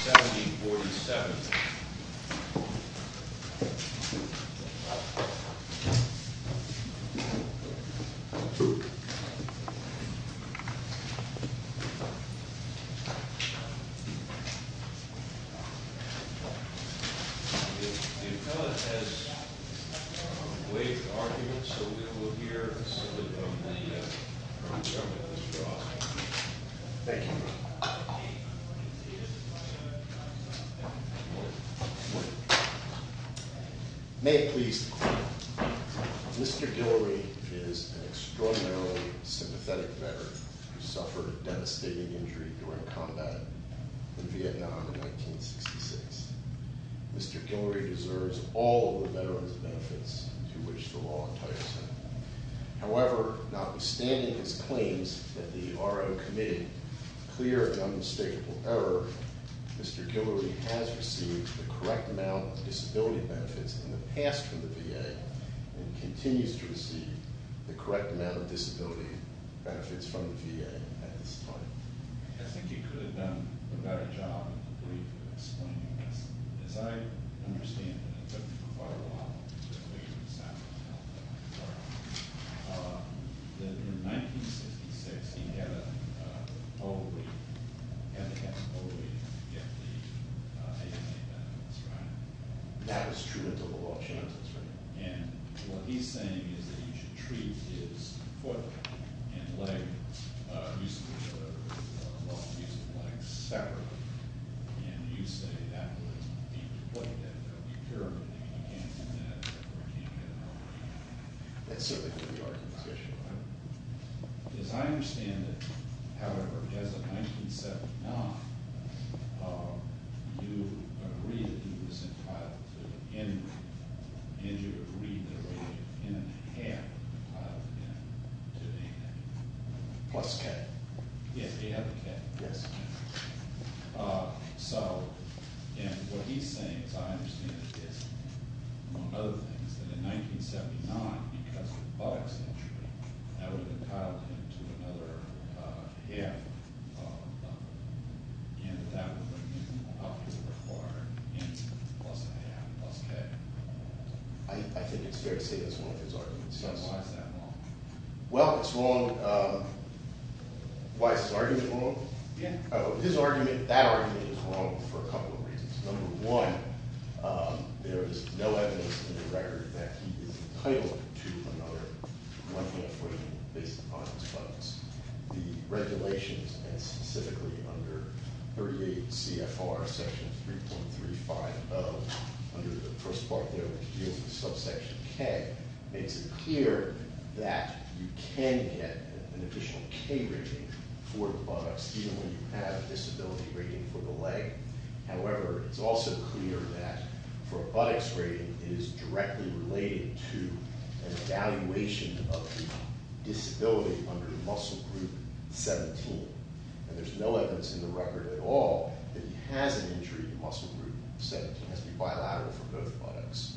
1747 The appellant has waived the argument, so we will hear a statement from the Attorney General, Mr. Osborne. Thank you. Good morning. May it please the Court, Mr. Guillory is an extraordinarily sympathetic veteran who suffered a devastating injury during combat in Vietnam in 1966. Mr. Guillory deserves all of the veterans' benefits to which the law entitles him. However, notwithstanding his claims that the RO committed clear and unmistakable error, Mr. Guillory has received the correct amount of disability benefits in the past from the VA, and continues to receive the correct amount of disability benefits from the VA at this time. I think he could have done a better job of explaining this. As I understand it, it took him quite a while to figure this out. In 1966, he had to have an OVA to get the AMA benefits, right? That was true until the law changes, right? And what he's saying is that he should treat his foot and leg, or use of his legs, separately. And you say that would be the point, that it would be purely that he can't do that, or he can't get an OVA. That certainly could be argued by him. As I understand it, however, as of 1979, you agreed that he was entitled to an NRA. And you agreed there would be an N and a half entitled to the AMA. Plus K. Yes, he had the K. Yes. I think it's fair to say that's one of his arguments. Why is that wrong? Well, it's wrong. Why is his argument wrong? Yeah. His argument, that argument is wrong for a couple of reasons. Number one, there is no evidence in the record that he is entitled to another NRA. The regulations, and specifically under 38 CFR section 3.35 of, under the first part there, which deals with subsection K, it's clear that you can get an additional K rating for buttocks, even when you have a disability rating for the leg. However, it's also clear that for a buttocks rating, it is directly related to an evaluation of the disability under muscle group 17. And there's no evidence in the record at all that he has an injury in muscle group 17. It has to be bilateral for both buttocks.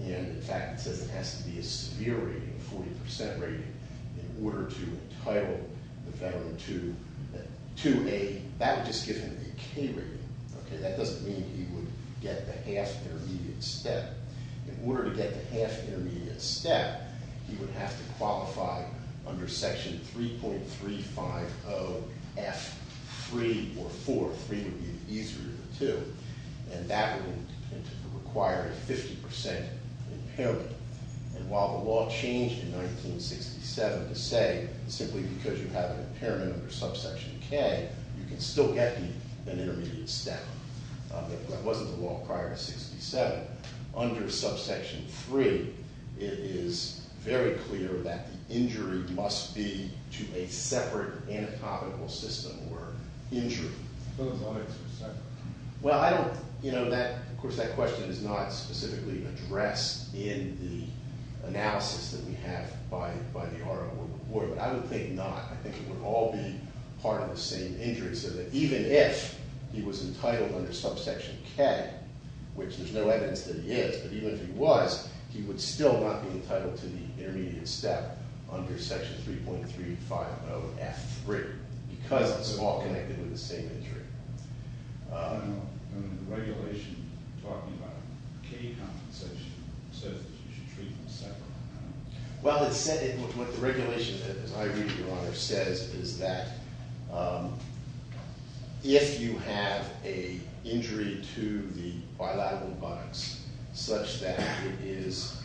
And, in fact, it says it has to be a severe rating, a 40% rating, in order to entitle the veteran to a, that would just give him a K rating. Okay? That doesn't mean he would get the half intermediate step. In order to get the half intermediate step, he would have to qualify under section 3.35 of F3 or 4. 3 would be easier than 2. And that would require a 50% impairment. And while the law changed in 1967 to say simply because you have an impairment under subsection K, you can still get an intermediate step. That wasn't the law prior to 67. Under subsection 3, it is very clear that the injury must be to a separate anatomical system or injury. Well, I don't, you know, that, of course, that question is not specifically addressed in the analysis that we have by the RIO Board. But I would think not. I think it would all be part of the same injury. So that even if he was entitled under subsection K, which there's no evidence that he is, but even if he was, he would still not be entitled to the intermediate step under section 3.35 of F3. Because it's all connected with the same injury. I don't know. Under the regulation, you're talking about K compensation. It says that you should treat them separately. Well, it said in what the regulation, as I read, Your Honor, says is that if you have an injury to the bilateral buttocks such that it is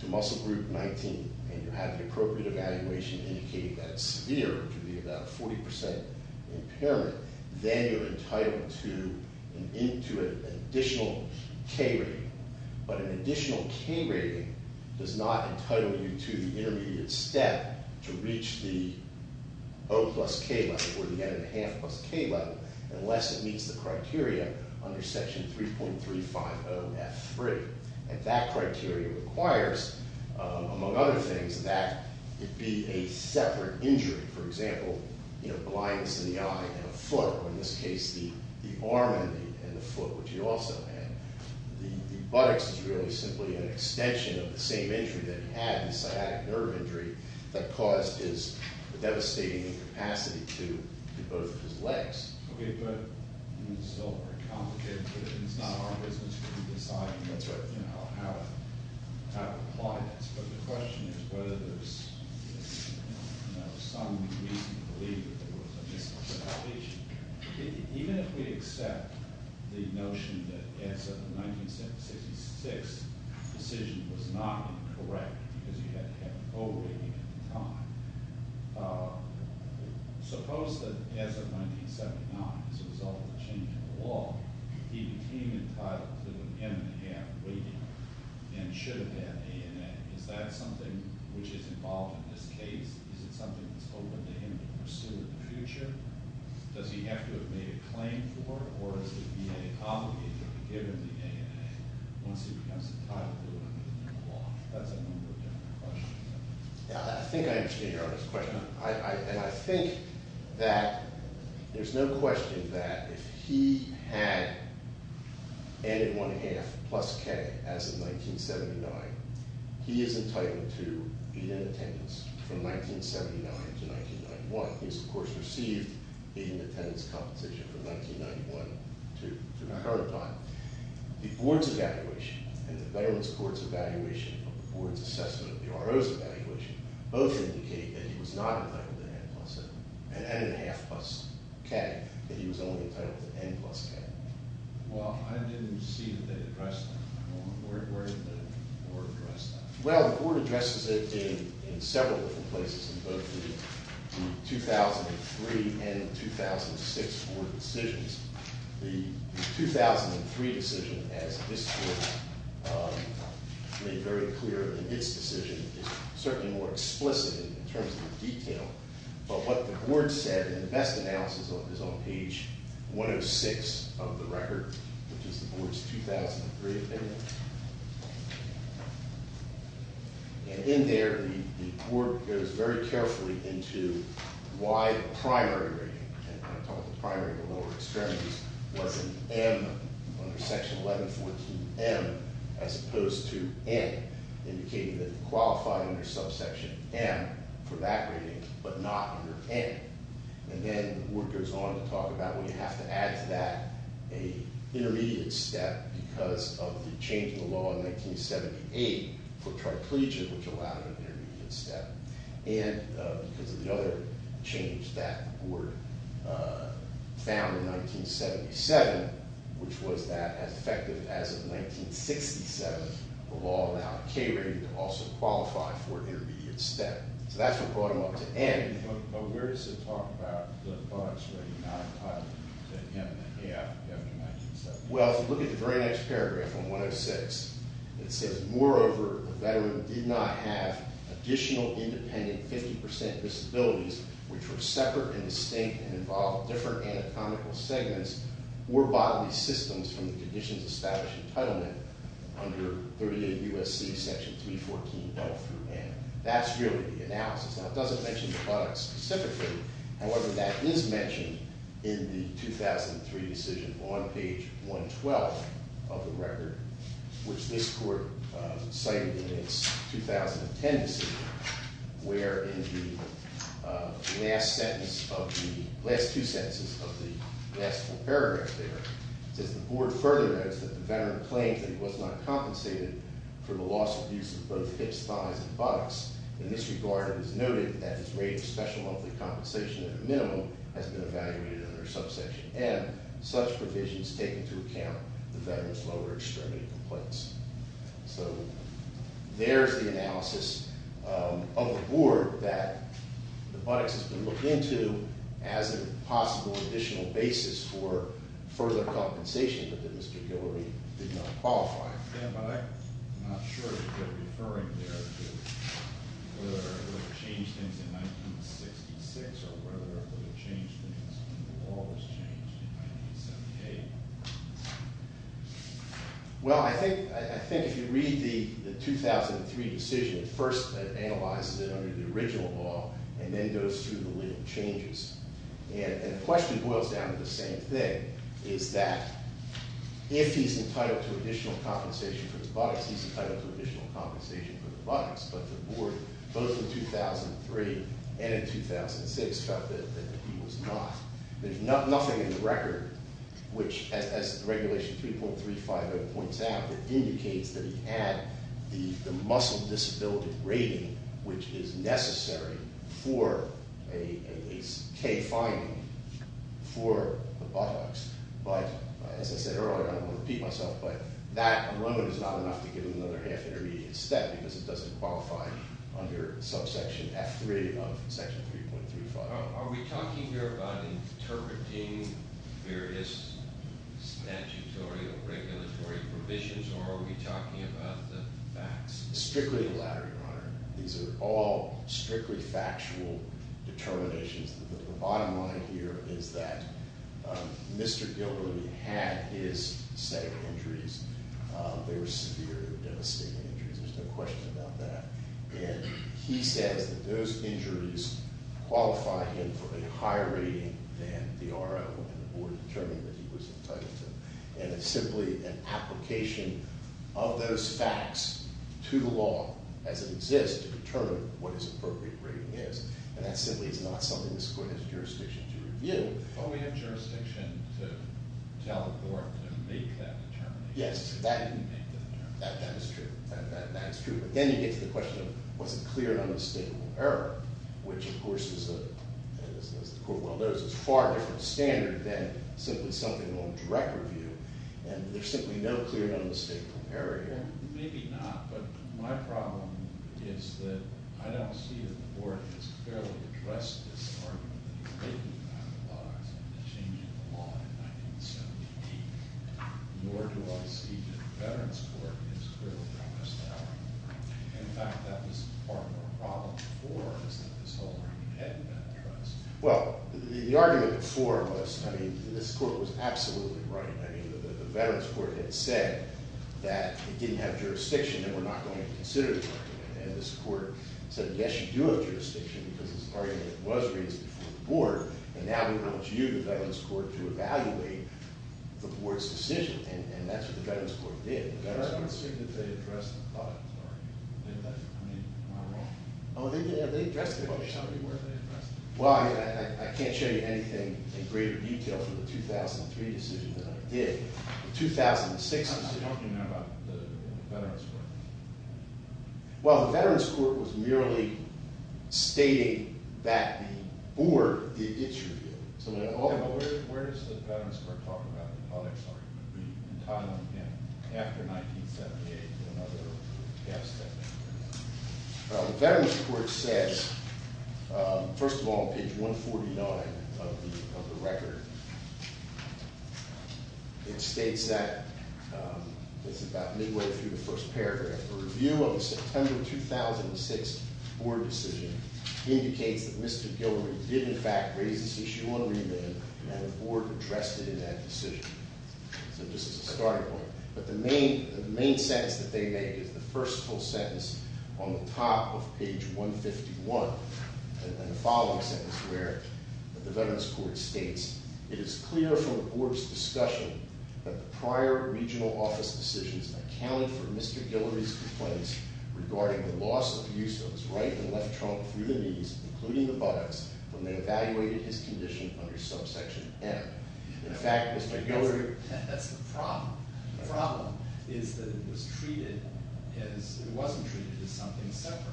to muscle group 19 and you have the appropriate evaluation indicating that it's severe, which would be about a 40% impairment, then you're entitled to an additional K rating. But an additional K rating does not entitle you to the intermediate step to reach the O plus K level or the N and a half plus K level unless it meets the criteria under section 3.35 of F3. And that criteria requires, among other things, that it be a separate injury. For example, blindness in the eye and a foot, or in this case, the arm and the foot, which he also had. The buttocks is really simply an extension of the same injury that he had, the sciatic nerve injury, that caused his devastating incapacity to do both of his legs. Okay, but it's still very complicated. It's not our business. We can decide how to apply this. But the question is whether there's some reason to believe that there was a miscalculation. Even if we accept the notion that as of 1966, the decision was not correct because you had to have an O rating at the time, suppose that as of 1979, as a result of the change in the law, he became entitled to an N and a half rating and should have had ANA. Is that something which is involved in this case? Is it something that's open to him to pursue in the future? Does he have to have made a claim for it? Or is he obligated to be given the ANA once he becomes entitled to it under the new law? That's a number of different questions. I think I understand your question. And I think that there's no question that if he had N and one half plus K as of 1979, he is entitled to be in attendance from 1979 to 1991. He has, of course, received the attendance compensation from 1991 to the current time. The board's evaluation and the Veterans Court's evaluation of the board's assessment of the RO's evaluation both indicate that he was not entitled to N plus N and N and a half plus K, that he was only entitled to N plus K. Well, I didn't see that they addressed that. Where did the board address that? Well, the board addresses it in several different places in both the 2003 and the 2006 board decisions. The 2003 decision, as this board made very clear in its decision, is certainly more explicit in terms of the detail. But what the board said in the best analysis is on page 106 of the record, which is the board's 2003 opinion. And in there, the board goes very carefully into why the primary rating, and I'm talking about the primary or lower extremities, was an M under Section 1114M as opposed to N, indicating that he qualified under subsection M for that rating but not under N. And then the board goes on to talk about, well, you have to add to that an intermediate step because of the change in the law in 1978 for triplegian, which allowed an intermediate step, and because of the other change that the board found in 1977, which was that, as effective as of 1967, the law allowed K rating to also qualify for an intermediate step. So that's what brought him up to N. But where does it talk about the bugs that he not entitled to an M that he hadn't mentioned? Well, if you look at the very next paragraph on 106, it says, moreover, the veteran did not have additional independent 50% disabilities which were separate and distinct and involved different anatomical segments or bodily systems from the conditions established in entitlement under 38 U.S.C. Section 314L through N. That's really the analysis. Now, it doesn't mention the buttocks specifically. However, that is mentioned in the 2003 decision on page 112 of the record, which this court cited in its 2010 decision, where in the last sentence of the last two sentences of the last paragraph there, it says the board further notes that the veteran claims that he was not compensated for the loss of use of both hips, thighs, and buttocks. In this regard, it is noted that his rate of special monthly compensation at a minimum has been evaluated under subsection M. Such provisions take into account the veteran's lower extremity complaints. So there's the analysis of the board that the buttocks has been looked into as a possible additional basis for further compensation that Mr. Hillary did not qualify for. Yeah, but I'm not sure that they're referring there to whether it would have changed things in 1966 or whether it would have changed things when the law was changed in 1978. Well, I think if you read the 2003 decision, first it analyzes it under the original law and then goes through the legal changes. And the question boils down to the same thing, is that if he's entitled to additional compensation for his buttocks, he's entitled to additional compensation for the buttocks. But the board, both in 2003 and in 2006, felt that he was not. There's nothing in the record which, as regulation 3.350 points out, indicates that he had the muscle disability rating which is necessary for a K-finding for the buttocks. But as I said earlier, I don't want to repeat myself, but that alone is not enough to give him another half intermediate step because it doesn't qualify under subsection F3 of section 3.350. Are we talking here about interpreting various statutory or regulatory provisions, or are we talking about the facts? Strictly the latter, Your Honor. These are all strictly factual determinations. The bottom line here is that Mr. Gilderly had his set of injuries. They were severe, devastating injuries. There's no question about that. And he says that those injuries qualify him for a higher rating than the RO and the board determined that he was entitled to. And it's simply an application of those facts to the law as it exists to determine what his appropriate rating is. And that simply is not something this court has jurisdiction to review. But we have jurisdiction to tell the board to make that determination. Yes, that is true. But then you get to the question of was it clear and unmistakable error, which, of course, as the court will notice, is a far different standard than simply something on direct review. And there's simply no clear and unmistakable error here. Well, maybe not, but my problem is that I don't see that the board has clearly addressed this argument that he's making about the laws and the change in the law in 1978. Nor do I see that the Veterans Court has clearly addressed that argument. In fact, that was part of the problem before was that this whole argument had been addressed. Well, the argument before was – I mean, this court was absolutely right. I mean, the Veterans Court had said that it didn't have jurisdiction and we're not going to consider the argument. And this court said, yes, you do have jurisdiction because this argument was raised before the board. And now we want you, the Veterans Court, to evaluate the board's decision. And that's what the Veterans Court did. I don't see that they addressed the thought of the argument. I mean, am I wrong? Oh, they addressed it. Well, they addressed it. Well, I can't show you anything in greater detail for the 2003 decision that I did. The 2006 decision – How much do you know about the Veterans Court? Well, the Veterans Court was merely stating that the board did issue it. Yeah, but where does the Veterans Court talk about the public's argument? Were you in Thailand after 1978? Well, the Veterans Court says – first of all, on page 149 of the record, it states that – it's about midway through the first paragraph – a review of the September 2006 board decision indicates that Mr. Gilroy did, in fact, raise this issue on remand, and the board entrusted in that decision. So this is a starting point. But the main sentence that they made is the first full sentence on the top of page 151, and the following sentence where the Veterans Court states, it is clear from the board's discussion that the prior regional office decisions accounted for Mr. Gilroy's complaints regarding the loss of use of his right and left trunk through the knees, including the buttocks, when they evaluated his condition under subsection M. In fact, Mr. Gilroy – That's the problem. The problem is that it was treated as – it wasn't treated as something separate.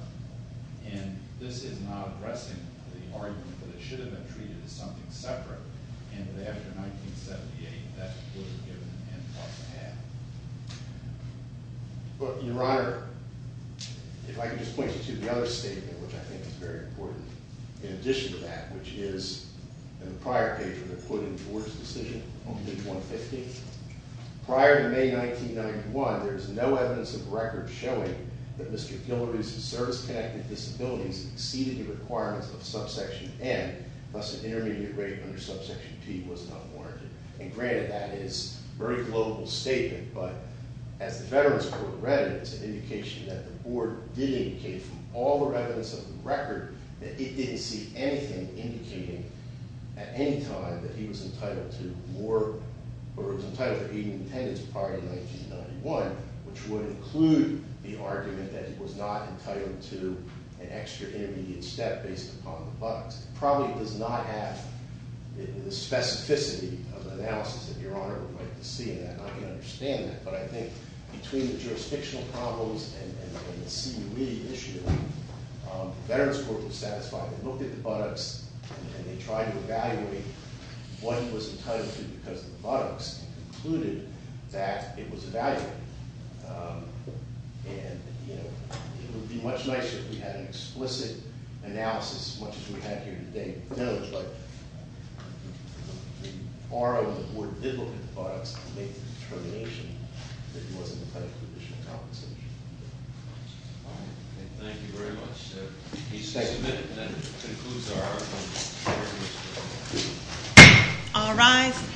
And this is not addressing the argument that it should have been treated as something separate and that after 1978 that would have given an end to what they had. But, Your Honor, if I could just point you to the other statement, which I think is very important, in addition to that, which is in the prior page where they're quoting the board's decision on page 150. Prior to May 1991, there is no evidence of records showing that Mr. Gilroy's service-connected disabilities exceeded the requirements of subsection M, thus an intermediate rate under subsection P was not warranted. And granted, that is a very global statement, but as the Veterans Court read it, it's an indication that the board did indicate from all the evidence of the record that it didn't see anything indicating at any time that he was entitled to more – or was entitled to even attendance prior to 1991, which would include the argument that he was not entitled to an extra intermediate step based upon the buttocks. It probably does not have the specificity of the analysis that Your Honor would like to see in that. But I think between the jurisdictional problems and the CUE issue, the Veterans Court was satisfied. They looked at the buttocks and they tried to evaluate what he was entitled to because of the buttocks and concluded that it was evaluated. And, you know, it would be much nicer if we had an explicit analysis, much as we have here today. But, you know, it's like the board did look at the buttocks to make the determination that he wasn't entitled to additional compensation. Thank you very much. Each statement then concludes our argument. All rise.